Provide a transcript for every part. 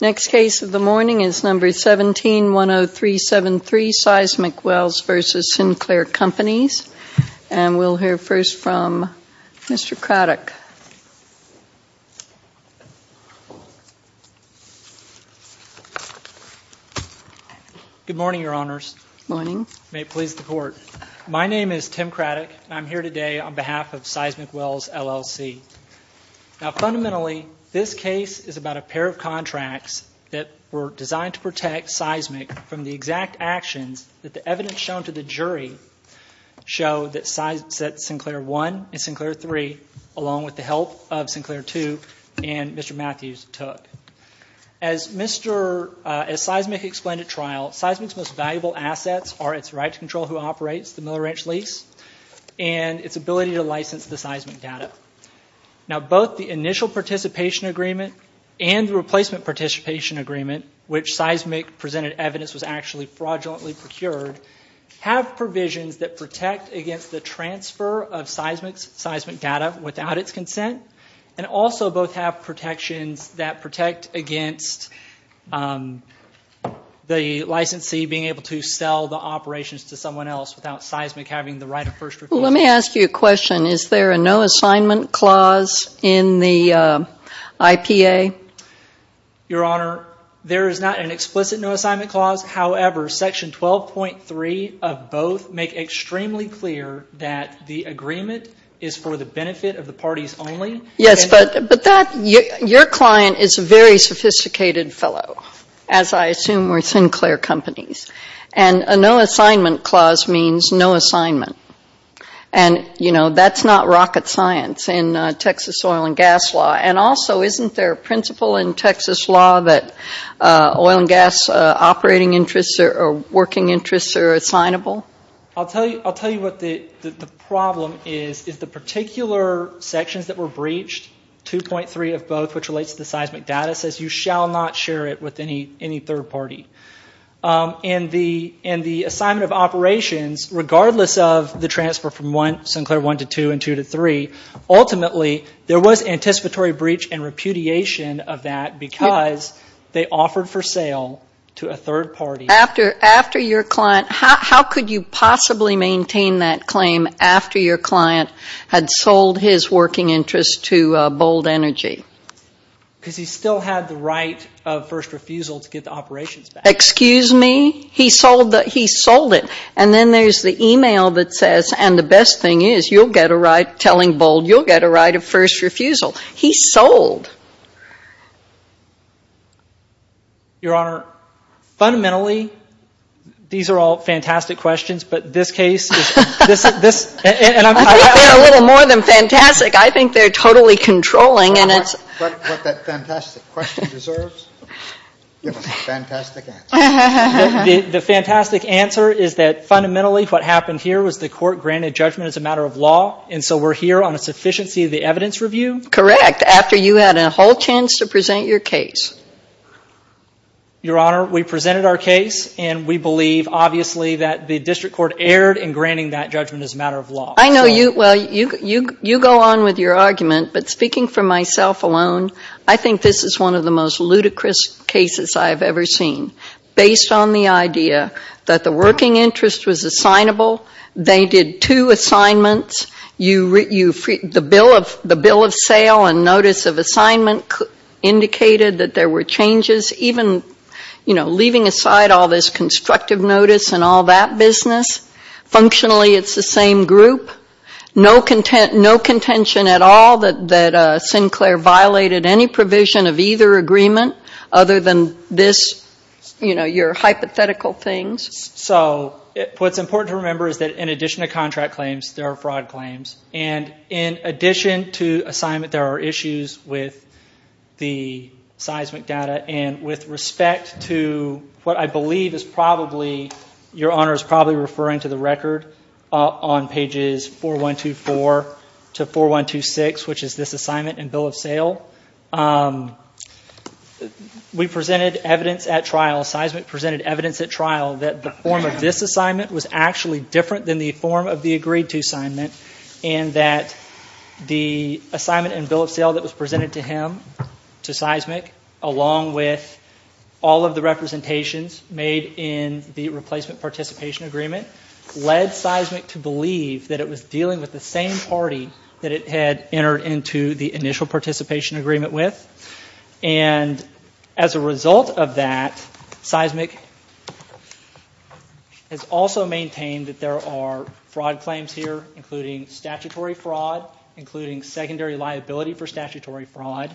Next case of the morning is No. 17-10373, Seismic Wells v. Sinclair Companies. And we'll hear first from Mr. Craddock. Good morning, Your Honors. Good morning. May it please the Court. My name is Tim Craddock, and I'm here today on behalf of Seismic Wells, L.L.C. Now, fundamentally, this case is about a pair of contracts that were designed to protect Seismic from the exact actions that the evidence shown to the jury show that Sinclair I and Sinclair III, along with the help of Sinclair II and Mr. Matthews, took. As Seismic explained at trial, Seismic's most valuable assets are its right to control who operates the Miller Ranch lease and its ability to license the seismic data. Now, both the initial participation agreement and the replacement participation agreement, which Seismic presented evidence was actually fraudulently procured, have provisions that protect against the transfer of Seismic's seismic data without its consent, and also both have protections that protect against the licensee being able to sell the operations to someone else without Seismic having the right of first refusal. Let me ask you a question. Is there a no-assignment clause in the IPA? Your Honor, there is not an explicit no-assignment clause. However, Section 12.3 of both make extremely clear that the agreement is for the benefit of the parties only. Yes, but your client is a very sophisticated fellow, as I assume were Sinclair companies. And a no-assignment clause means no assignment. And, you know, that's not rocket science in Texas oil and gas law. And also, isn't there a principle in Texas law that oil and gas operating interests or working interests are assignable? I'll tell you what the problem is, is the particular sections that were breached, 2.3 of both, which relates to the seismic data, says you shall not share it with any third party. And the assignment of operations, regardless of the transfer from Sinclair 1 to 2 and 2 to 3, ultimately there was anticipatory breach and repudiation of that because they offered for sale to a third party. After your client, how could you possibly maintain that claim after your client had sold his working interest to Bold Energy? Because he still had the right of first refusal to get the operations back. Excuse me? He sold it. And then there's the e-mail that says, and the best thing is, you'll get a right, telling Bold, you'll get a right of first refusal. He sold. Your Honor, fundamentally, these are all fantastic questions, but this case is – I think they're a little more than fantastic. I think they're totally controlling, and it's – What that fantastic question deserves is a fantastic answer. The fantastic answer is that fundamentally what happened here was the court granted judgment as a matter of law, and so we're here on a sufficiency of the evidence review? Correct, after you had a whole chance to present your case. Your Honor, we presented our case, and we believe, obviously, that the district court erred in granting that judgment as a matter of law. I know you – well, you go on with your argument, but speaking for myself alone, I think this is one of the most ludicrous cases I have ever seen, based on the idea that the working interest was assignable. They did two assignments. The bill of sale and notice of assignment indicated that there were changes. Even, you know, leaving aside all this constructive notice and all that business, functionally it's the same group? No contention at all that Sinclair violated any provision of either agreement, other than this, you know, your hypothetical things? So what's important to remember is that in addition to contract claims, there are fraud claims, and in addition to assignment, there are issues with the seismic data, and with respect to what I believe is probably – your Honor is probably referring to the record on pages 4124 to 4126, which is this assignment and bill of sale. We presented evidence at trial, seismic presented evidence at trial, that the form of this assignment was actually different than the form of the agreed-to assignment, and that the assignment and bill of sale that was presented to him, to seismic, along with all of the representations made in the replacement participation agreement, led seismic to believe that it was dealing with the same party that it had entered into the initial participation agreement with. And as a result of that, seismic has also maintained that there are fraud claims here, including statutory fraud, including secondary liability for statutory fraud.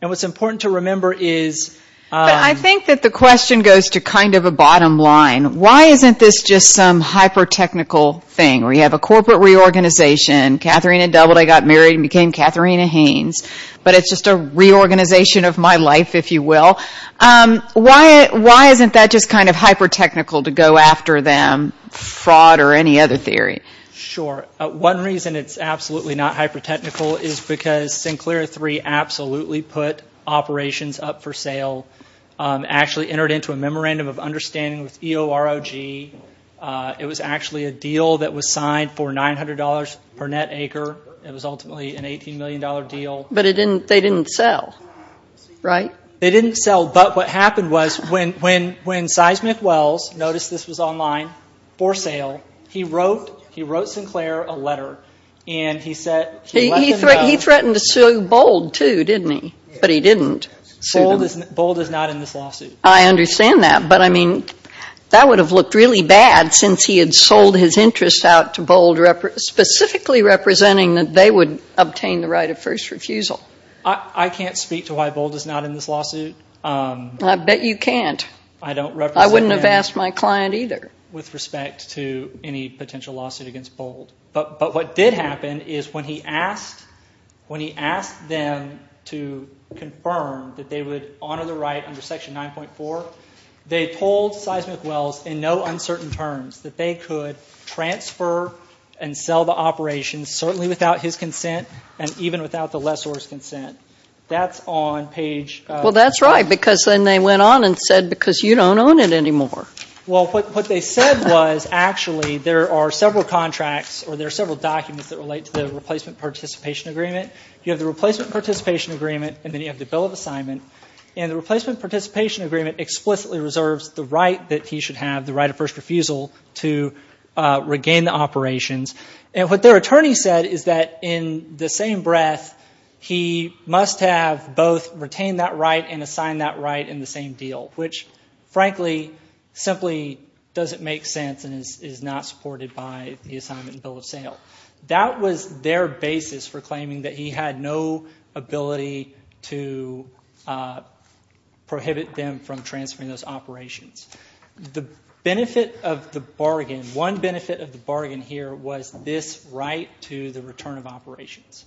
And what's important to remember is – But I think that the question goes to kind of a bottom line. Why isn't this just some hyper-technical thing, where you have a corporate reorganization, Katharina Doubleday got married and became Katharina Haynes, but it's just a reorganization of my life, if you will? Why isn't that just kind of hyper-technical to go after them, fraud or any other theory? Sure. One reason it's absolutely not hyper-technical is because Sinclair III absolutely put operations up for sale, actually entered into a memorandum of understanding with EOROG. It was actually a deal that was signed for $900 per net acre. It was ultimately an $18 million deal. But they didn't sell, right? They didn't sell. But what happened was when Seismic Wells noticed this was online for sale, he wrote Sinclair a letter and he said – He threatened to sue Bold, too, didn't he? But he didn't sue them. Bold is not in this lawsuit. I understand that. But, I mean, that would have looked really bad since he had sold his interest out to Bold, specifically representing that they would obtain the right of first refusal. I can't speak to why Bold is not in this lawsuit. I bet you can't. I don't represent him. I wouldn't have asked my client either. With respect to any potential lawsuit against Bold. But what did happen is when he asked them to confirm that they would honor the right under Section 9.4, they told Seismic Wells in no uncertain terms that they could transfer and sell the operations, certainly without his consent and even without the lessor's consent. That's on page – Well, that's right because then they went on and said because you don't own it anymore. Well, what they said was actually there are several contracts or there are several documents that relate to the replacement participation agreement. You have the replacement participation agreement and then you have the bill of assignment. And the replacement participation agreement explicitly reserves the right that he should have, the right of first refusal, to regain the operations. And what their attorney said is that in the same breath, he must have both retained that right and assigned that right in the same deal, which frankly simply doesn't make sense and is not supported by the assignment and bill of sale. That was their basis for claiming that he had no ability to prohibit them from transferring those operations. The benefit of the bargain, one benefit of the bargain here was this right to the return of operations.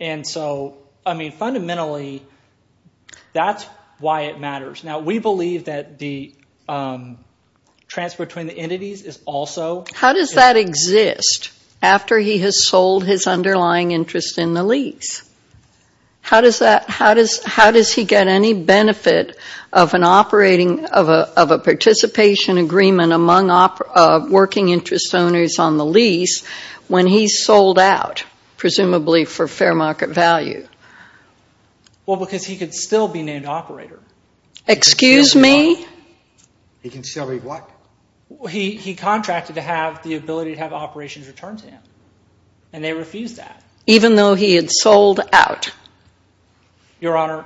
And so fundamentally, that's why it matters. Now, we believe that the transfer between the entities is also – How does that exist after he has sold his underlying interest in the lease? How does he get any benefit of an operating – of a participation agreement among working interest owners on the lease when he's sold out presumably for fair market value? Well, because he could still be named operator. Excuse me? He can still be what? He contracted to have the ability to have operations returned to him, and they refused that. Even though he had sold out? Your Honor,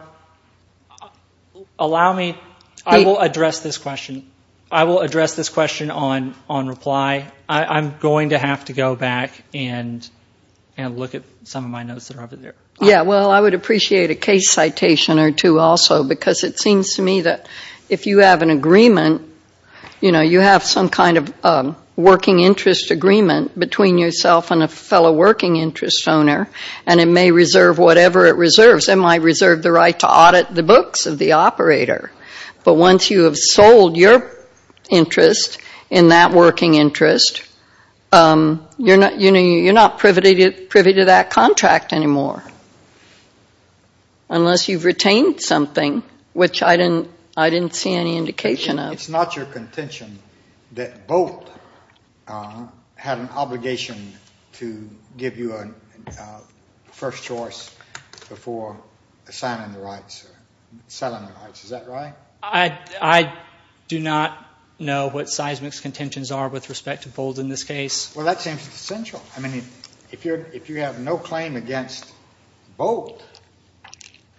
allow me – I will address this question. I will address this question on reply. I'm going to have to go back and look at some of my notes that are over there. Yeah, well, I would appreciate a case citation or two also, because it seems to me that if you have an agreement, you know, you have some kind of working interest agreement between yourself and a fellow working interest owner, and it may reserve whatever it reserves. It might reserve the right to audit the books of the operator. But once you have sold your interest in that working interest, you're not privy to that contract anymore unless you've retained something, which I didn't see any indication of. It's not your contention that Bolt had an obligation to give you a first choice before signing the rights or selling the rights. Is that right? I do not know what Seismic's contentions are with respect to Bolt in this case. Well, that seems essential. I mean, if you have no claim against Bolt,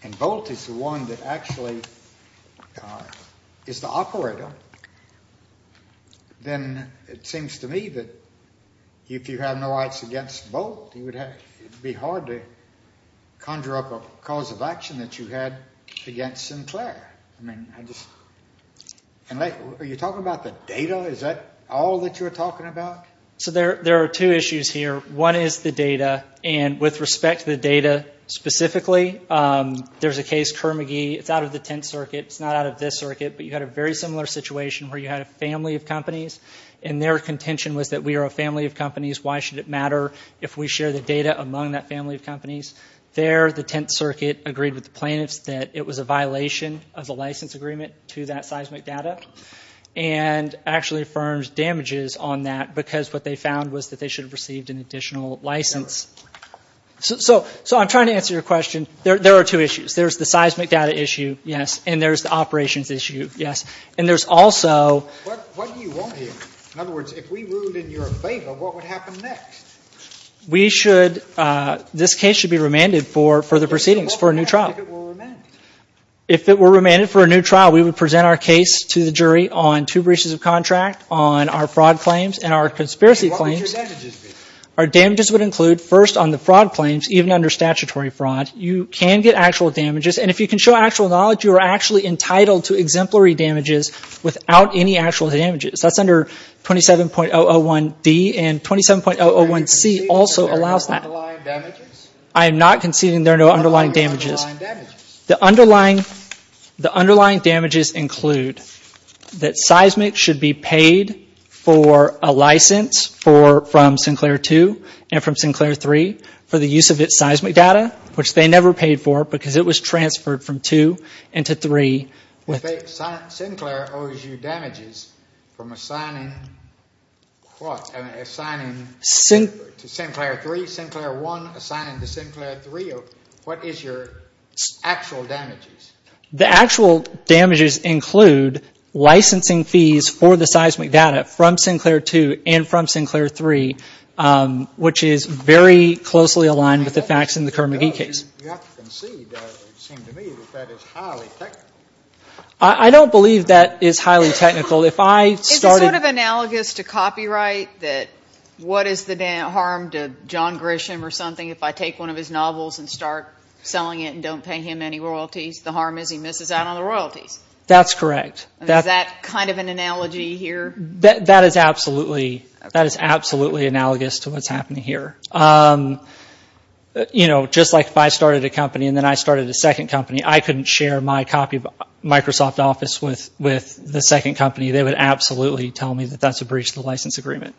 and Bolt is the one that actually is the operator, then it seems to me that if you have no rights against Bolt, it would be hard to conjure up a cause of action that you had against Sinclair. And are you talking about the data? Is that all that you're talking about? So there are two issues here. One is the data, and with respect to the data specifically, there's a case, Kerr-McGee. It's out of the Tenth Circuit. It's not out of this circuit, but you had a very similar situation where you had a family of companies, and their contention was that we are a family of companies. Why should it matter if we share the data among that family of companies? There, the Tenth Circuit agreed with the plaintiffs that it was a violation of the license agreement to that seismic data and actually affirms damages on that because what they found was that they should have received an additional license. So I'm trying to answer your question. There are two issues. There's the seismic data issue, yes, and there's the operations issue, yes. And there's also— What do you want here? In other words, if we ruled in your favor, what would happen next? We should—this case should be remanded for further proceedings, for a new trial. What happens if it were remanded? If it were remanded for a new trial, we would present our case to the jury on two breaches of contract, on our fraud claims and our conspiracy claims. What would your damages be? Our damages would include, first, on the fraud claims, even under statutory fraud. You can get actual damages, and if you can show actual knowledge, you are actually entitled to exemplary damages without any actual damages. That's under 27.001D, and 27.001C also allows that. Are you conceding there are no underlying damages? I am not conceding there are no underlying damages. What are the underlying damages? The underlying damages include that seismic should be paid for a license from Sinclair 2 and from Sinclair 3 for the use of its seismic data, which they never paid for because it was transferred from 2 and to 3. Sinclair owes you damages from assigning to Sinclair 3, Sinclair 1, assigning to Sinclair 3. What is your actual damages? The actual damages include licensing fees for the seismic data from Sinclair 2 and from Sinclair 3, which is very closely aligned with the facts in the Kerr-McGee case. You have to concede, it seems to me, that that is highly technical. I don't believe that is highly technical. Is it sort of analogous to copyright, that what is the harm to John Grisham or something if I take one of his novels and start selling it and don't pay him any royalties? The harm is he misses out on the royalties. That's correct. Is that kind of an analogy here? That is absolutely analogous to what's happening here. You know, just like if I started a company and then I started a second company, I couldn't share my copy of Microsoft Office with the second company. They would absolutely tell me that that's a breach of the license agreement.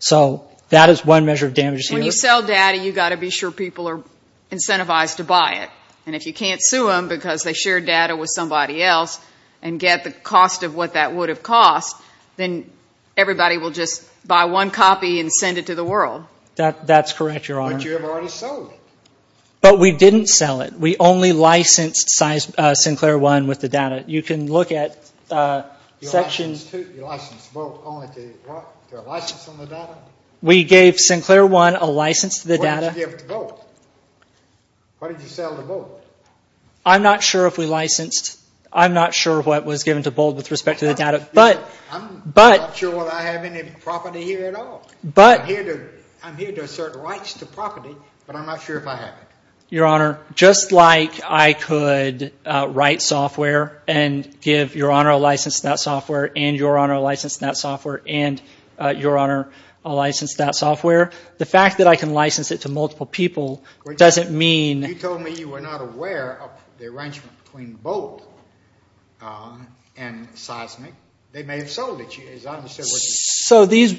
So that is one measure of damages here. When you sell data, you've got to be sure people are incentivized to buy it. And if you can't sue them because they shared data with somebody else and get the cost of what that would have cost, then everybody will just buy one copy and send it to the world. That's correct, Your Honor. But you have already sold it. But we didn't sell it. We only licensed Sinclair One with the data. You can look at Section – You licensed Bolt only to a license on the data? We gave Sinclair One a license to the data. What did you give to Bolt? What did you sell to Bolt? I'm not sure if we licensed – I'm not sure what was given to Bolt with respect to the data. I'm not sure whether I have any property here at all. I'm here to assert rights to property, but I'm not sure if I have it. Your Honor, just like I could write software and give Your Honor a license to that software and Your Honor a license to that software and Your Honor a license to that software, the fact that I can license it to multiple people doesn't mean – They may have sold it.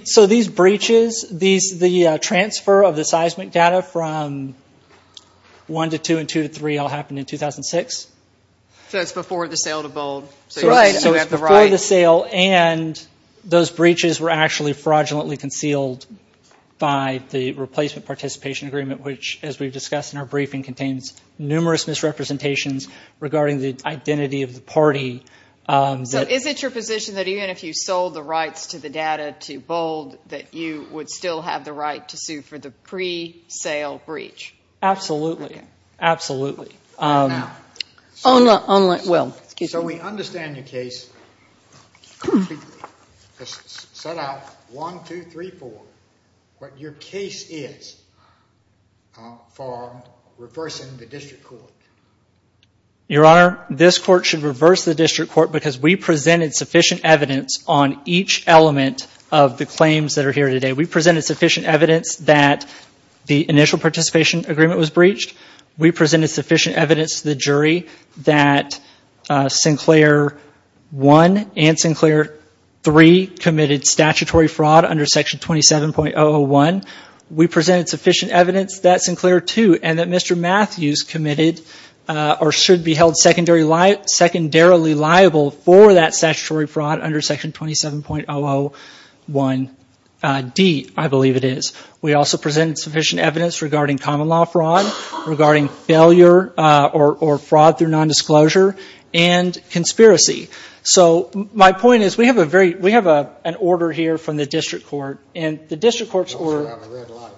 So these breaches, the transfer of the seismic data from 1 to 2 and 2 to 3 all happened in 2006? So it's before the sale to Bolt. Right, so it's before the sale, and those breaches were actually fraudulently concealed by the Replacement Participation Agreement, which, as we've discussed in our briefing, contains numerous misrepresentations regarding the identity of the party. So is it your position that even if you sold the rights to the data to Bolt that you would still have the right to sue for the pre-sale breach? Absolutely. Absolutely. So we understand your case completely. Set out 1, 2, 3, 4, what your case is for reversing the district court. Your Honor, this court should reverse the district court because we presented sufficient evidence on each element of the claims that are here today. We presented sufficient evidence that the Initial Participation Agreement was breached. We presented sufficient evidence to the jury that Sinclair 1 and Sinclair 3 committed statutory fraud under Section 27.001. We presented sufficient evidence that Sinclair 2 and that Mr. Matthews committed or should be held secondarily liable for that statutory fraud under Section 27.001D, I believe it is. We also presented sufficient evidence regarding common law fraud, regarding failure or fraud through nondisclosure, and conspiracy. So my point is we have an order here from the district court, You also have a red light.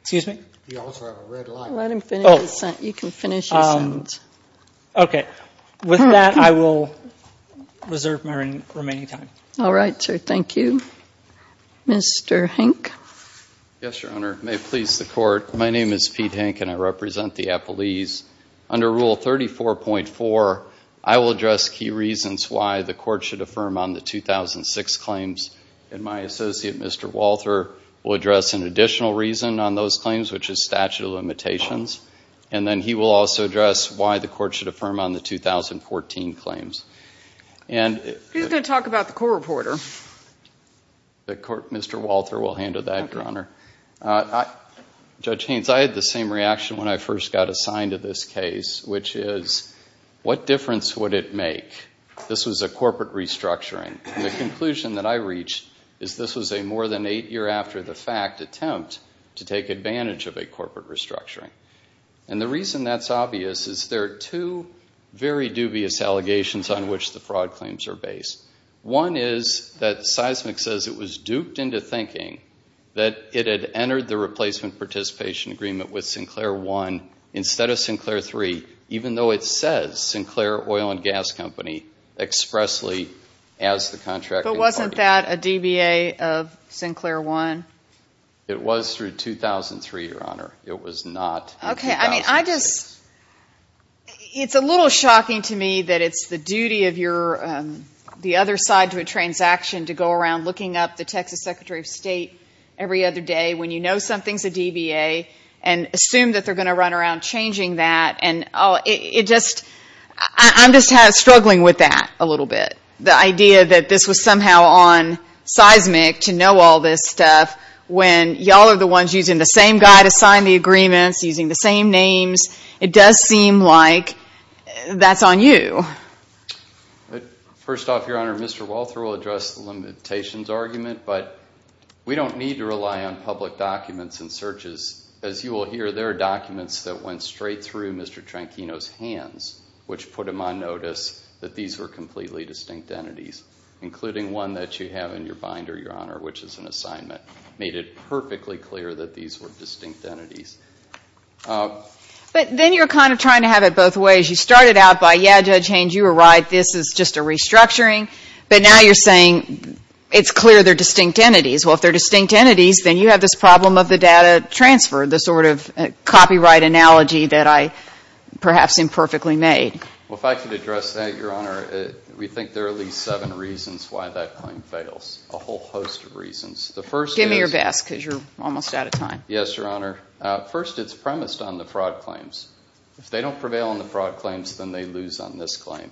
Excuse me? You also have a red light. Let him finish his sentence. You can finish your sentence. Okay. With that, I will reserve my remaining time. All right, sir. Thank you. Mr. Hank. Yes, Your Honor. May it please the Court. My name is Pete Hank and I represent the Appalese. Under Rule 34.4, I will address key reasons why the Court should affirm on the 2006 claims and my associate, Mr. Walther, will address an additional reason on those claims, which is statute of limitations. And then he will also address why the Court should affirm on the 2014 claims. He's going to talk about the court reporter. Mr. Walther will handle that, Your Honor. Judge Haynes, I had the same reaction when I first got assigned to this case, which is what difference would it make? This was a corporate restructuring. And the conclusion that I reached is this was a more than eight year after the fact attempt to take advantage of a corporate restructuring. And the reason that's obvious is there are two very dubious allegations on which the fraud claims are based. One is that Seismic says it was duped into thinking that it had entered the replacement participation agreement with Sinclair One instead of Sinclair Three, even though it says Sinclair Oil and Gas Company expressly as the contracting partner. But wasn't that a DBA of Sinclair One? It was through 2003, Your Honor. It was not in 2006. Okay. I mean, I just, it's a little shocking to me that it's the duty of the other side to a transaction to go around looking up the Texas Secretary of State every other day when you know something's a DBA and assume that they're going to run around changing that. And it just, I'm just struggling with that a little bit. The idea that this was somehow on Seismic to know all this stuff when you all are the ones using the same guy to sign the agreements, using the same names, it does seem like that's on you. First off, Your Honor, Mr. Walther will address the limitations argument, but we don't need to rely on public documents and searches. As you will hear, there are documents that went straight through Mr. Tranchino's hands, which put him on notice that these were completely distinct entities, including one that you have in your binder, Your Honor, which is an assignment. It made it perfectly clear that these were distinct entities. But then you're kind of trying to have it both ways. You started out by, yeah, Judge Haynes, you were right, this is just a restructuring. But now you're saying it's clear they're distinct entities. Well, if they're distinct entities, then you have this problem of the data transfer, the sort of copyright analogy that I perhaps imperfectly made. Well, if I could address that, Your Honor, we think there are at least seven reasons why that claim fails, a whole host of reasons. Give me your best because you're almost out of time. Yes, Your Honor. First, it's premised on the fraud claims. If they don't prevail on the fraud claims, then they lose on this claim.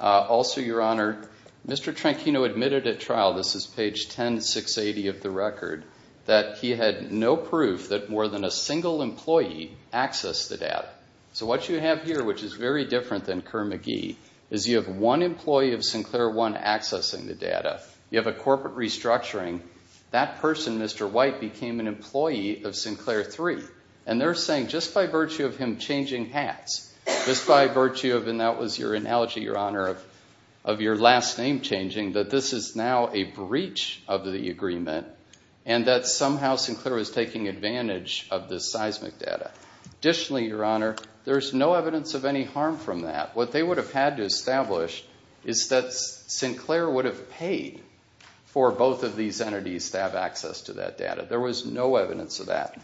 Also, Your Honor, Mr. Tranchino admitted at trial, this is page 10680 of the record, that he had no proof that more than a single employee accessed the data. So what you have here, which is very different than Kerr-McGee, is you have one employee of Sinclair 1 accessing the data. You have a corporate restructuring. That person, Mr. White, became an employee of Sinclair 3. And they're saying just by virtue of him changing hats, just by virtue of, and that was your analogy, Your Honor, of your last name changing, that this is now a breach of the agreement and that somehow Sinclair was taking advantage of this seismic data. Additionally, Your Honor, there's no evidence of any harm from that. What they would have had to establish is that Sinclair would have paid for both of these entities to have access to that data. There was no evidence of that.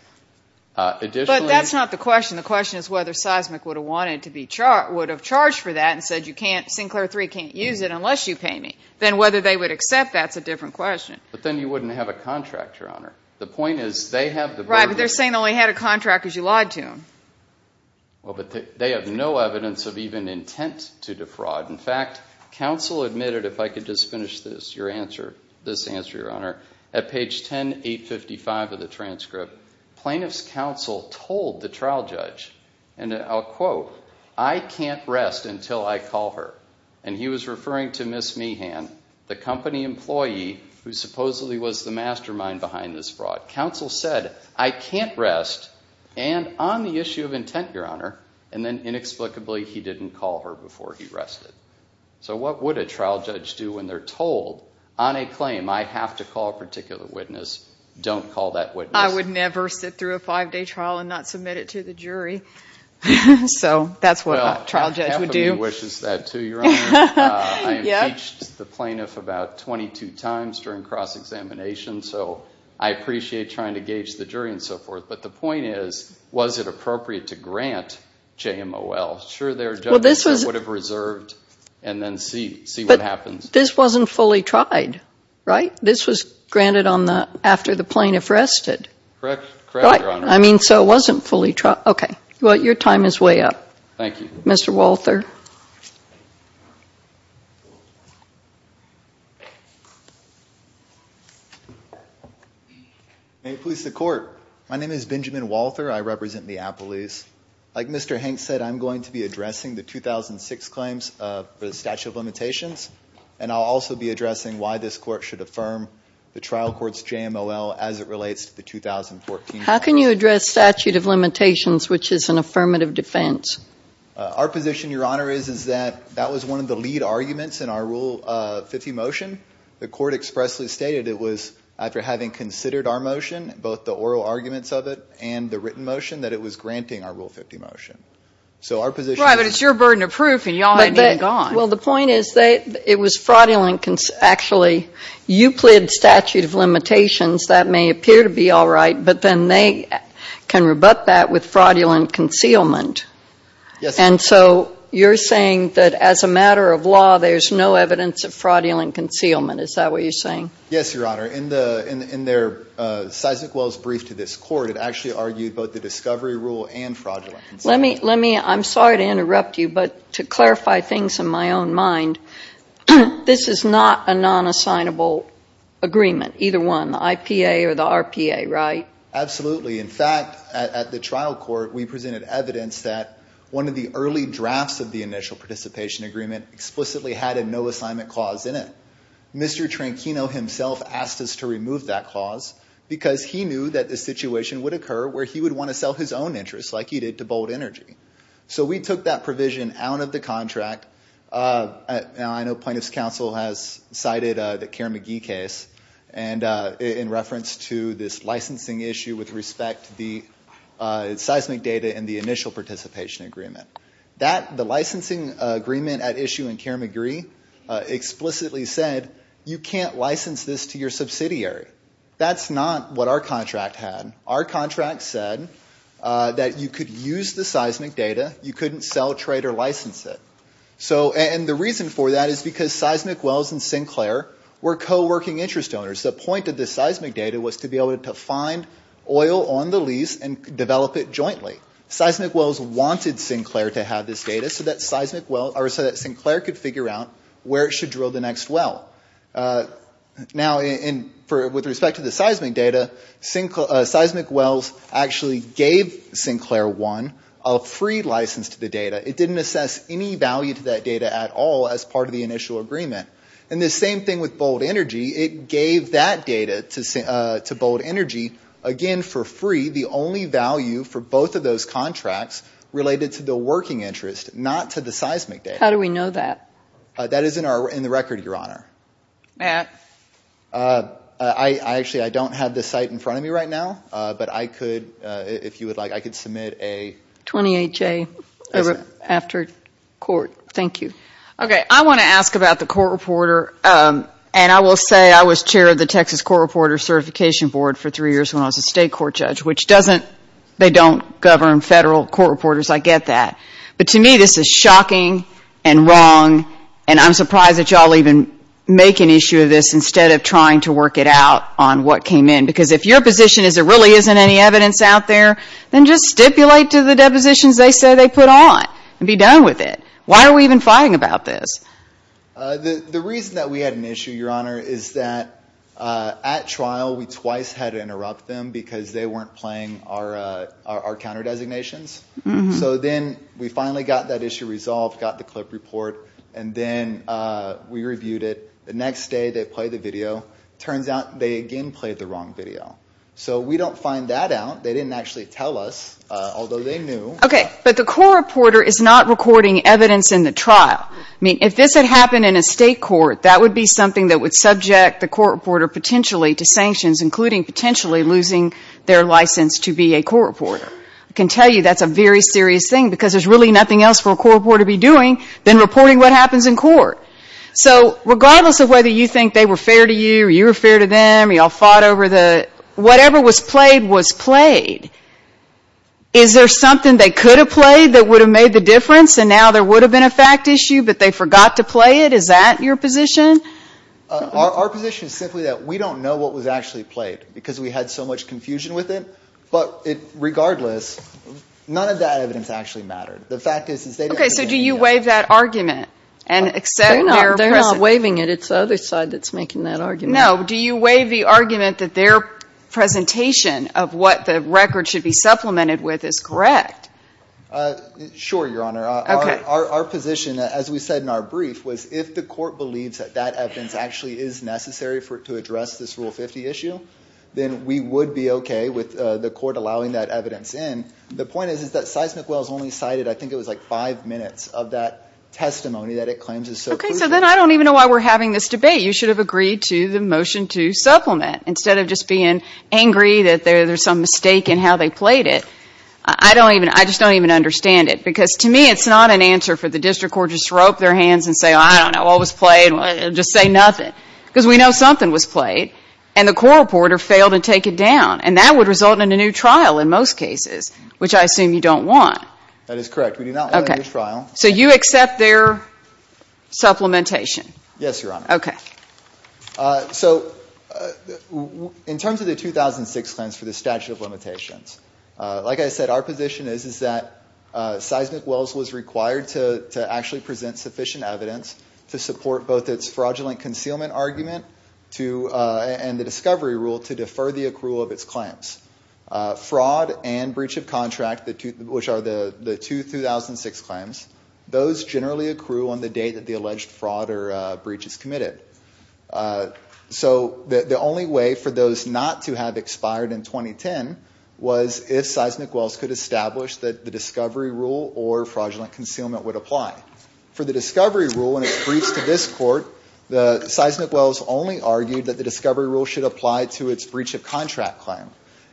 But that's not the question. The question is whether Seismic would have charged for that and said Sinclair 3 can't use it unless you pay me. Then whether they would accept, that's a different question. But then you wouldn't have a contract, Your Honor. Right, but they're saying they only had a contract because you lied to them. Well, but they have no evidence of even intent to defraud. In fact, counsel admitted, if I could just finish this answer, Your Honor, at page 10855 of the transcript, plaintiff's counsel told the trial judge, and I'll quote, I can't rest until I call her. And he was referring to Ms. Meehan, the company employee who supposedly was the mastermind behind this fraud. Counsel said, I can't rest, and on the issue of intent, Your Honor, and then inexplicably he didn't call her before he rested. So what would a trial judge do when they're told on a claim I have to call a particular witness, don't call that witness? I would never sit through a five-day trial and not submit it to the jury. So that's what a trial judge would do. Well, half of me wishes that too, Your Honor. I impeached the plaintiff about 22 times during cross-examination, so I appreciate trying to gauge the jury and so forth. But the point is, was it appropriate to grant JMOL? Sure, there are judges that would have reserved and then see what happens. This wasn't fully tried, right? This was granted after the plaintiff rested. Correct, Your Honor. I mean, so it wasn't fully tried. Well, your time is way up. Thank you. Mr. Walther. May it please the Court. My name is Benjamin Walther. I represent Neapolis. Like Mr. Hanks said, I'm going to be addressing the 2006 claims for the statute of limitations, and I'll also be addressing why this Court should affirm the trial court's JMOL as it relates to the 2014 trial. How can you address statute of limitations, which is an affirmative defense? Our position, Your Honor, is that that was one of the lead arguments in our Rule 50 motion. The Court expressly stated it was, after having considered our motion, both the oral arguments of it and the written motion, that it was granting our Rule 50 motion. Right, but it's your burden of proof, and y'all have it gone. Well, the point is that it was fraudulent. Actually, you plead statute of limitations. That may appear to be all right, but then they can rebut that with fraudulent concealment. Yes, Your Honor. And so you're saying that, as a matter of law, there's no evidence of fraudulent concealment. Is that what you're saying? Yes, Your Honor. In their Sysakwell's brief to this Court, it actually argued both the discovery rule and fraudulent concealment. I'm sorry to interrupt you, but to clarify things in my own mind, this is not a non-assignable agreement, either one, the IPA or the RPA, right? Absolutely. In fact, at the trial court, we presented evidence that one of the early drafts of the initial participation agreement explicitly had a no-assignment clause in it. Mr. Tranchino himself asked us to remove that clause because he knew that this situation would occur where he would want to sell his own interests, like he did, to Bold Energy. So we took that provision out of the contract. I know plaintiff's counsel has cited the Kerr-McGee case in reference to this licensing issue with respect to the seismic data and the initial participation agreement. The licensing agreement at issue in Kerr-McGee explicitly said, you can't license this to your subsidiary. That's not what our contract had. Our contract said that you could use the seismic data. You couldn't sell, trade, or license it. And the reason for that is because Seismic Wells and Sinclair were co-working interest owners. The point of the seismic data was to be able to find oil on the lease and develop it jointly. Seismic Wells wanted Sinclair to have this data so that Sinclair could figure out where it should drill the next well. Now, with respect to the seismic data, Seismic Wells actually gave Sinclair One a free license to the data. It didn't assess any value to that data at all as part of the initial agreement. And the same thing with Bold Energy. It gave that data to Bold Energy, again for free, the only value for both of those contracts related to the working interest, not to the seismic data. How do we know that? That is in the record, Your Honor. Matt? Actually, I don't have the site in front of me right now, but I could, if you would like, I could submit a… 28-J after court. Thank you. Okay, I want to ask about the court reporter. And I will say I was chair of the Texas Court Reporter Certification Board for three years when I was a state court judge, which they don't govern federal court reporters. I get that. But to me this is shocking and wrong, and I'm surprised that you all even make an issue of this instead of trying to work it out on what came in. Because if your position is there really isn't any evidence out there, then just stipulate to the depositions they say they put on and be done with it. Why are we even fighting about this? The reason that we had an issue, Your Honor, is that at trial we twice had to interrupt them because they weren't playing our counter-designations. So then we finally got that issue resolved, got the clip report, and then we reviewed it. The next day they played the video. It turns out they again played the wrong video. So we don't find that out. They didn't actually tell us, although they knew. Okay, but the court reporter is not recording evidence in the trial. I mean, if this had happened in a state court, that would be something that would subject the court reporter potentially to sanctions, including potentially losing their license to be a court reporter. I can tell you that's a very serious thing because there's really nothing else for a court reporter to be doing than reporting what happens in court. So regardless of whether you think they were fair to you or you were fair to them, you all fought over the – whatever was played was played. Is there something they could have played that would have made the difference and now there would have been a fact issue but they forgot to play it? Is that your position? Our position is simply that we don't know what was actually played because we had so much confusion with it. But regardless, none of that evidence actually mattered. Okay, so do you waive that argument and accept their – They're not waiving it. It's the other side that's making that argument. No, do you waive the argument that their presentation of what the record should be supplemented with is correct? Sure, Your Honor. Our position, as we said in our brief, was if the court believes that that evidence actually is necessary to address this Rule 50 issue, then we would be okay with the court allowing that evidence in. The point is that Sizemore Wells only cited, I think it was like five minutes, of that testimony that it claims is so crucial. Okay, so then I don't even know why we're having this debate. You should have agreed to the motion to supplement instead of just being angry that there's some mistake in how they played it. I don't even – I just don't even understand it because to me it's not an answer for the district court to just rope their hands and say, and the court reporter failed to take it down, and that would result in a new trial in most cases, which I assume you don't want. That is correct. We do not want a new trial. So you accept their supplementation? Yes, Your Honor. Okay. So in terms of the 2006 claims for the statute of limitations, like I said, our position is that Seismic Wells was required to actually present sufficient evidence to support both its fraudulent concealment argument and the discovery rule to defer the accrual of its claims. Fraud and breach of contract, which are the two 2006 claims, those generally accrue on the date that the alleged fraud or breach is committed. So the only way for those not to have expired in 2010 was if Seismic Wells could establish that the discovery rule or fraudulent concealment would apply. For the discovery rule and its breach to this court, Seismic Wells only argued that the discovery rule should apply to its breach of contract claim.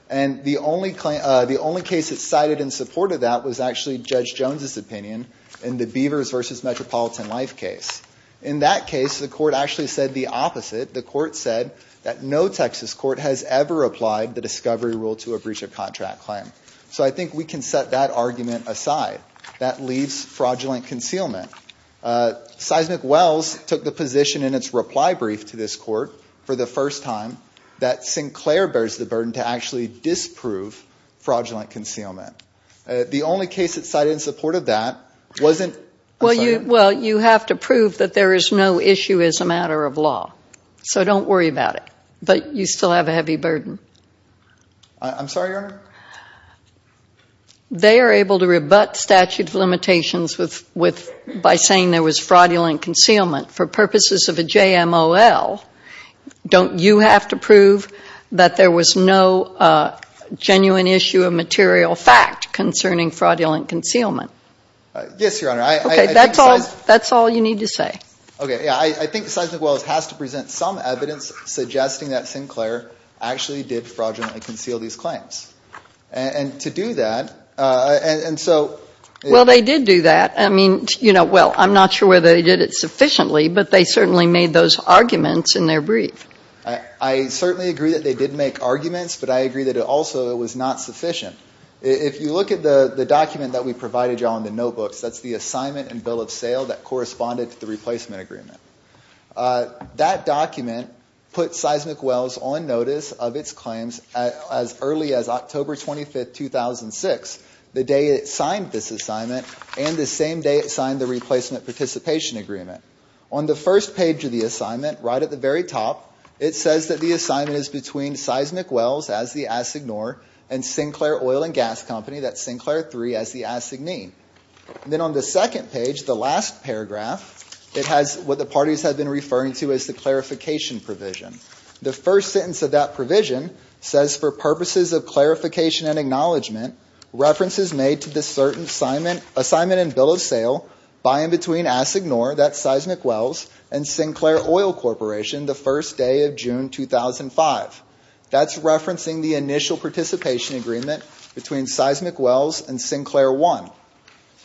And the only case that cited and supported that was actually Judge Jones's opinion in the Beavers v. Metropolitan Life case. In that case, the court actually said the opposite. The court said that no Texas court has ever applied the discovery rule to a breach of contract claim. So I think we can set that argument aside. That leaves fraudulent concealment. Seismic Wells took the position in its reply brief to this court for the first time that Sinclair bears the burden to actually disprove fraudulent concealment. The only case that cited and supported that wasn't- Well, you have to prove that there is no issue as a matter of law. So don't worry about it. I'm sorry, Your Honor? They are able to rebut statute of limitations by saying there was fraudulent concealment. For purposes of a JMOL, don't you have to prove that there was no genuine issue of material fact concerning fraudulent concealment? Yes, Your Honor. Okay, that's all you need to say. Okay, yeah, I think Seismic Wells has to present some evidence suggesting that Sinclair actually did fraudulently conceal these claims. And to do that, and so- Well, they did do that. I mean, you know, well, I'm not sure whether they did it sufficiently, but they certainly made those arguments in their brief. I certainly agree that they did make arguments, but I agree that also it was not sufficient. If you look at the document that we provided you all in the notebooks, that's the assignment and bill of sale that corresponded to the replacement agreement. That document put Seismic Wells on notice of its claims as early as October 25, 2006, the day it signed this assignment and the same day it signed the replacement participation agreement. On the first page of the assignment, right at the very top, it says that the assignment is between Seismic Wells as the assignor and Sinclair Oil and Gas Company, that's Sinclair III, as the assignee. Then on the second page, the last paragraph, it has what the parties have been referring to as the clarification provision. The first sentence of that provision says, for purposes of clarification and acknowledgment, references made to the certain assignment and bill of sale by and between assignor, that's Seismic Wells, and Sinclair Oil Corporation the first day of June 2005. That's referencing the initial participation agreement between Seismic Wells and Sinclair I.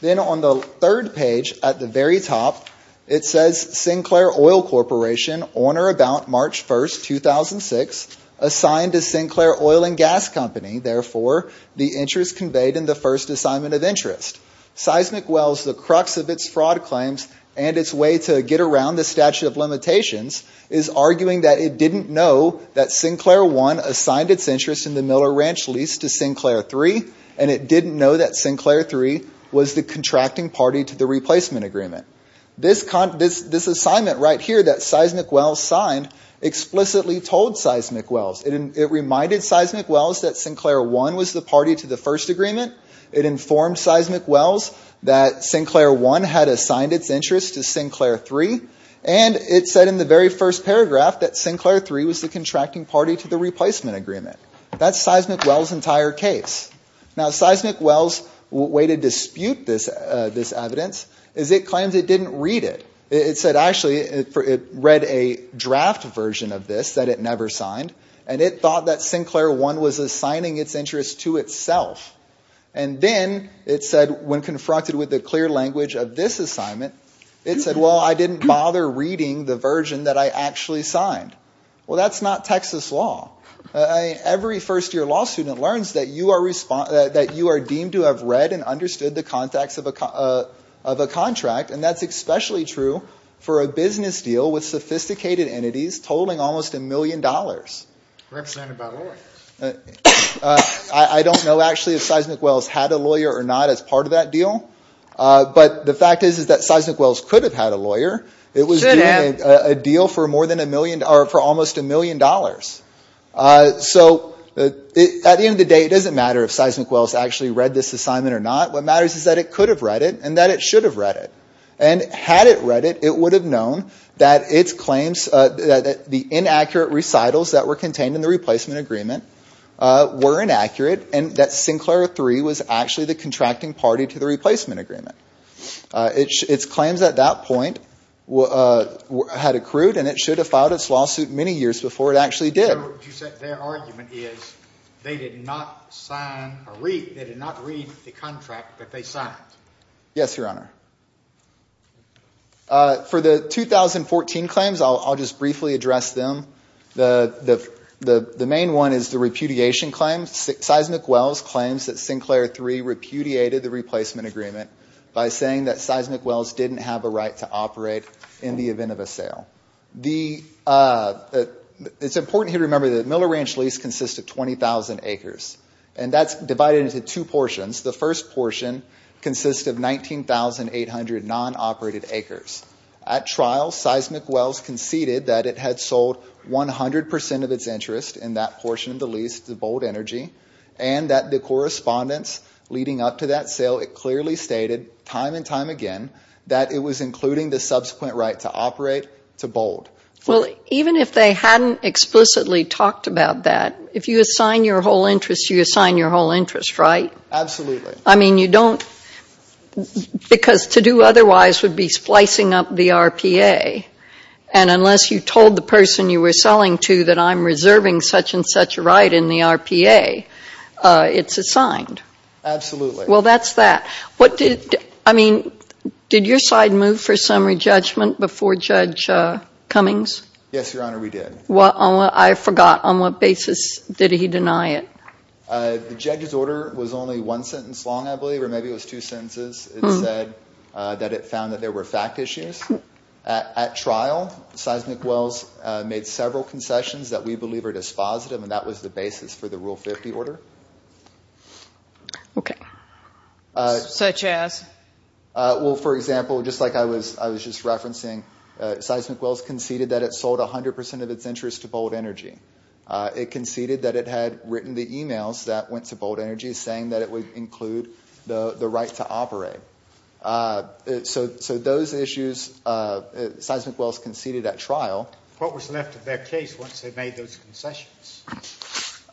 Then on the third page, at the very top, it says Sinclair Oil Corporation on or about March 1, 2006, assigned to Sinclair Oil and Gas Company, therefore the interest conveyed in the first assignment of interest. Seismic Wells, the crux of its fraud claims and its way to get around the statute of limitations, is arguing that it didn't know that Sinclair I assigned its interest in the Miller Ranch lease to Sinclair III, and it didn't know that Sinclair III was the contracting party to the replacement agreement. This assignment right here that Seismic Wells signed explicitly told Seismic Wells. It reminded Seismic Wells that Sinclair I was the party to the first agreement. It informed Seismic Wells that Sinclair I had assigned its interest to Sinclair III, and it said in the very first paragraph that Sinclair III was the contracting party to the replacement agreement. That's Seismic Wells' entire case. Now Seismic Wells' way to dispute this evidence is it claims it didn't read it. It said actually it read a draft version of this that it never signed, and it thought that Sinclair I was assigning its interest to itself. And then it said when confronted with the clear language of this assignment, it said, well, I didn't bother reading the version that I actually signed. Well, that's not Texas law. Every first-year law student learns that you are deemed to have read and understood the context of a contract, and that's especially true for a business deal with sophisticated entities tolling almost a million dollars. I don't know actually if Seismic Wells had a lawyer or not as part of that deal, but the fact is that Seismic Wells could have had a lawyer. It was a deal for almost a million dollars. So at the end of the day, it doesn't matter if Seismic Wells actually read this assignment or not. What matters is that it could have read it and that it should have read it. And had it read it, it would have known that its claims, that the inaccurate recitals that were contained in the replacement agreement were inaccurate and that Sinclair III was actually the contracting party to the replacement agreement. Its claims at that point had accrued, and it should have filed its lawsuit many years before it actually did. Their argument is they did not read the contract that they signed. Yes, Your Honor. For the 2014 claims, I'll just briefly address them. The main one is the repudiation claim. Seismic Wells claims that Sinclair III repudiated the replacement agreement by saying that Seismic Wells didn't have a right to operate in the event of a sale. It's important to remember that Miller Ranch Lease consists of 20,000 acres, and that's divided into two portions. The first portion consists of 19,800 non-operated acres. At trial, Seismic Wells conceded that it had sold 100 percent of its interest in that portion of the lease to Bold Energy, and that the correspondence leading up to that sale, it clearly stated time and time again that it was including the subsequent right to operate to Bold. Well, even if they hadn't explicitly talked about that, if you assign your whole interest, you assign your whole interest, right? Absolutely. I mean, you don't, because to do otherwise would be splicing up the RPA, and unless you told the person you were selling to that I'm reserving such and such a right in the RPA, it's assigned. Absolutely. Well, that's that. What did, I mean, did your side move for summary judgment before Judge Cummings? Yes, Your Honor, we did. I forgot, on what basis did he deny it? The judge's order was only one sentence long, I believe, or maybe it was two sentences. It said that it found that there were fact issues. At trial, Seismic Wells made several concessions that we believe are dispositive, and that was the basis for the Rule 50 order. Okay. Such as? Well, for example, just like I was just referencing, Seismic Wells conceded that it sold 100 percent of its interest to Bold Energy. It conceded that it had written the e-mails that went to Bold Energy saying that it would include the right to operate. So those issues Seismic Wells conceded at trial. What was left of their case once they made those concessions?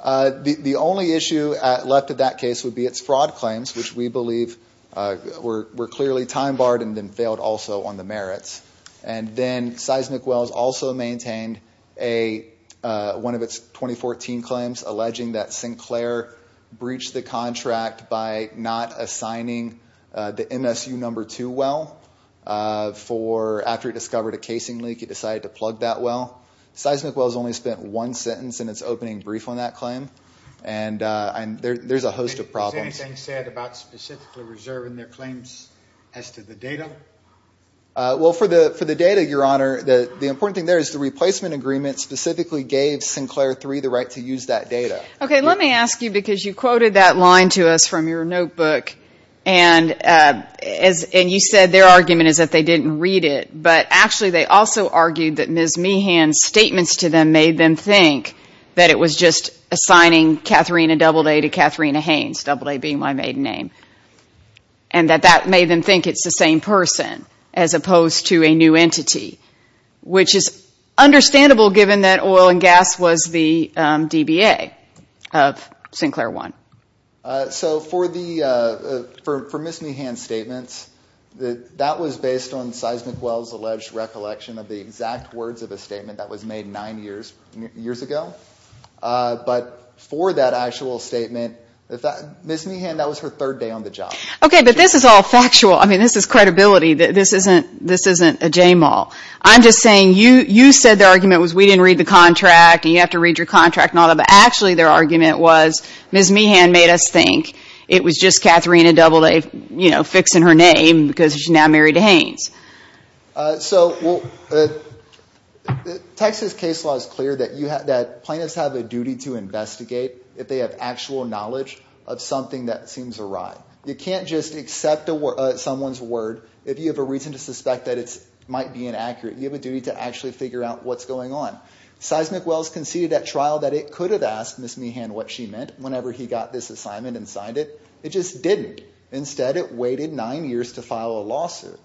The only issue left of that case would be its fraud claims, which we believe were clearly time-barred and then failed also on the merits. And then Seismic Wells also maintained one of its 2014 claims, alleging that Sinclair breached the contract by not assigning the MSU No. 2 well. After it discovered a casing leak, it decided to plug that well. Seismic Wells only spent one sentence in its opening brief on that claim, and there's a host of problems. Has anything said about specifically reserving their claims as to the data? Well, for the data, Your Honor, the important thing there is the replacement agreement specifically gave Sinclair III the right to use that data. Okay, let me ask you, because you quoted that line to us from your notebook, and you said their argument is that they didn't read it, but actually they also argued that Ms. Meehan's statements to them made them think that it was just assigning Katharina Doubleday to Katharina Haynes, Doubleday being my maiden name, and that that made them think it's the same person as opposed to a new entity, which is understandable given that oil and gas was the DBA of Sinclair I. So for Ms. Meehan's statements, that was based on Seismic Wells' alleged recollection of the exact words of a statement that was made nine years ago. But for that actual statement, Ms. Meehan, that was her third day on the job. Okay, but this is all factual. I mean, this is credibility. This isn't a j-mal. I'm just saying you said their argument was we didn't read the contract and you have to read your contract and all that, but actually their argument was Ms. Meehan made us think it was just Katharina Doubleday fixing her name because she's now married to Haynes. So Texas case law is clear that plaintiffs have a duty to investigate if they have actual knowledge of something that seems awry. You can't just accept someone's word if you have a reason to suspect that it might be inaccurate. You have a duty to actually figure out what's going on. Seismic Wells conceded at trial that it could have asked Ms. Meehan what she meant whenever he got this assignment and signed it. It just didn't. Instead, it waited nine years to file a lawsuit.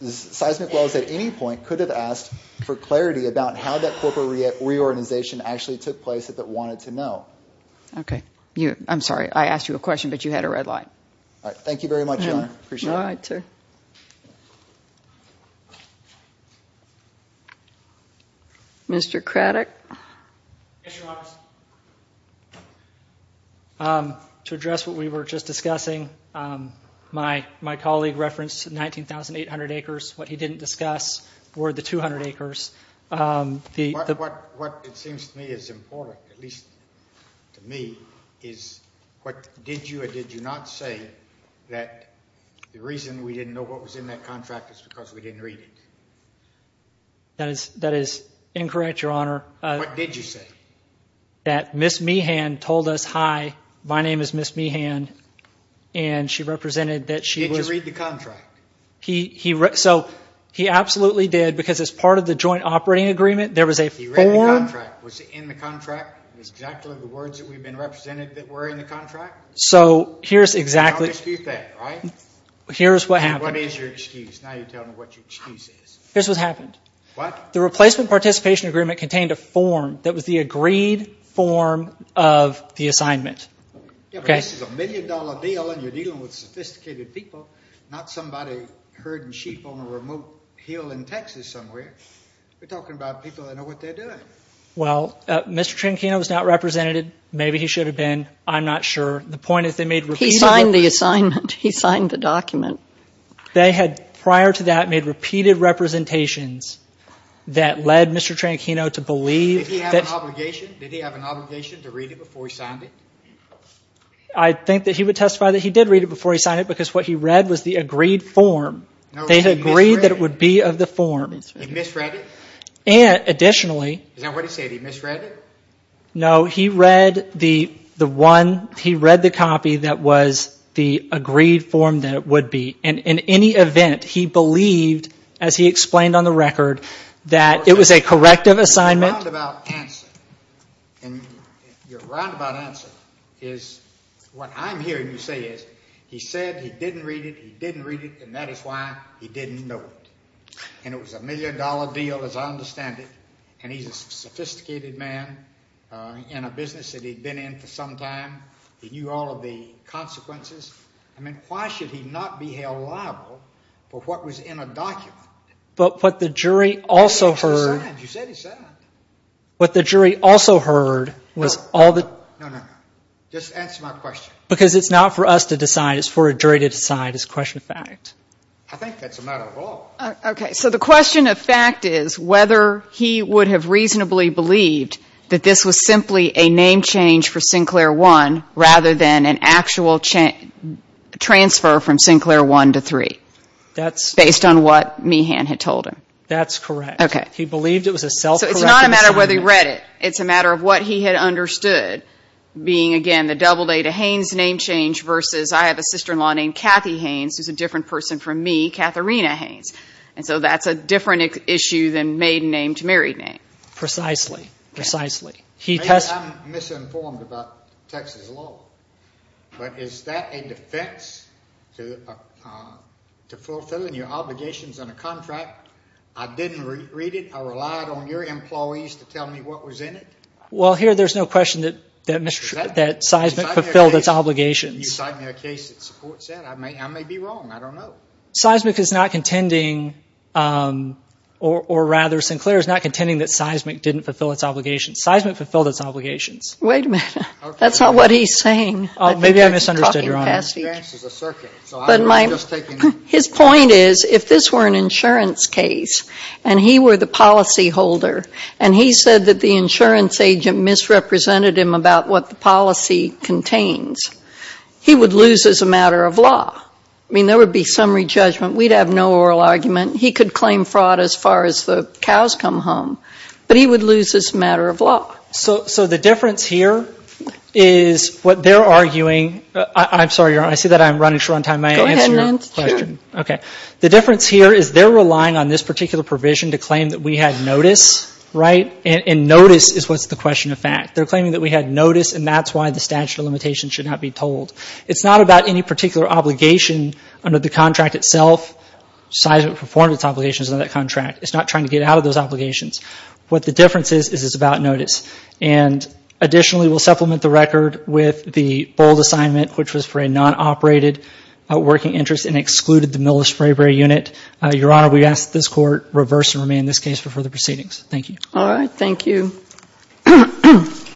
Seismic Wells at any point could have asked for clarity about how that corporate reorganization actually took place if it wanted to know. Okay. I'm sorry. I asked you a question, but you had a red light. All right. Thank you very much, Your Honor. I appreciate it. All right, sir. Mr. Craddock? Yes, Your Honor. To address what we were just discussing, my colleague referenced 19,800 acres. What he didn't discuss were the 200 acres. What it seems to me is important, at least to me, is what did you or did you not say that the reason we didn't know what was in that contract is because we didn't read it? That is incorrect, Your Honor. What did you say? That Ms. Meehan told us, hi, my name is Ms. Meehan, and she represented that she was – Did you read the contract? He – so he absolutely did because as part of the joint operating agreement, there was a form – He read the contract. Was it in the contract? Was it exactly the words that we had been represented that were in the contract? So here's exactly – Don't excuse that, right? Here's what happened. What is your excuse? Now you tell me what your excuse is. Here's what happened. What? The replacement participation agreement contained a form that was the agreed form of the assignment. Yeah, but this is a million-dollar deal and you're dealing with sophisticated people, not somebody herding sheep on a remote hill in Texas somewhere. We're talking about people that know what they're doing. Well, Mr. Trinchino was not represented. Maybe he should have been. I'm not sure. The point is they made – they had prior to that made repeated representations that led Mr. Trinchino to believe that – Did he have an obligation? Did he have an obligation to read it before he signed it? I think that he would testify that he did read it before he signed it because what he read was the agreed form. They had agreed that it would be of the form. He misread it? Additionally – Is that what he said? He misread it? No, he read the one – he read the copy that was the agreed form that it would be. In any event, he believed, as he explained on the record, that it was a corrective assignment. Your roundabout answer is – what I'm hearing you say is he said he didn't read it, he didn't read it, and that is why he didn't know it. And it was a million dollar deal, as I understand it, and he's a sophisticated man in a business that he'd been in for some time. He knew all of the consequences. I mean, why should he not be held liable for what was in a document? But what the jury also heard – You said he signed. You said he signed. What the jury also heard was all the – No, no, no. Just answer my question. Because it's not for us to decide. It's for a jury to decide. It's question of fact. I think that's a matter of law. Okay. So the question of fact is whether he would have reasonably believed that this was simply a name change for Sinclair 1, rather than an actual transfer from Sinclair 1 to 3, based on what Meehan had told him. That's correct. Okay. He believed it was a self-corrective assignment. So it's not a matter of whether he read it. It's a matter of what he had understood being, again, the double-data Haynes name change versus I have a sister-in-law named Kathy Haynes, who's a different person from me, Katharina Haynes. And so that's a different issue than maiden name to married name. Precisely. Precisely. I'm misinformed about Texas law, but is that a defense to fulfilling your obligations on a contract? I didn't read it. I relied on your employees to tell me what was in it. Well, here there's no question that Seisman fulfilled its obligations. You cite me a case that supports that. I may be wrong. I don't know. Seismic is not contending, or rather Sinclair is not contending that Seismic didn't fulfill its obligations. Seismic fulfilled its obligations. Wait a minute. That's not what he's saying. Oh, maybe I misunderstood, Your Honor. I think that's talking past each other. His point is, if this were an insurance case, and he were the policyholder, and he said that the insurance agent misrepresented him about what the policy contains, he would lose as a matter of law. I mean, there would be summary judgment. We'd have no oral argument. He could claim fraud as far as the cows come home. But he would lose as a matter of law. So the difference here is what they're arguing. I'm sorry, Your Honor. I see that I'm running short on time. Go ahead. May I answer your question? Sure. Okay. The difference here is they're relying on this particular provision to claim that we had notice, right? And notice is what's the question of fact. They're claiming that we had notice, and that's why the statute of limitations should not be told. It's not about any particular obligation under the contract itself. Seismic performed its obligations under that contract. It's not trying to get out of those obligations. What the difference is is it's about notice. And additionally, we'll supplement the record with the bold assignment, which was for a non-operated working interest and excluded the military unit. Your Honor, we ask that this Court reverse and remain in this case for further proceedings. Thank you. All right. Thank you.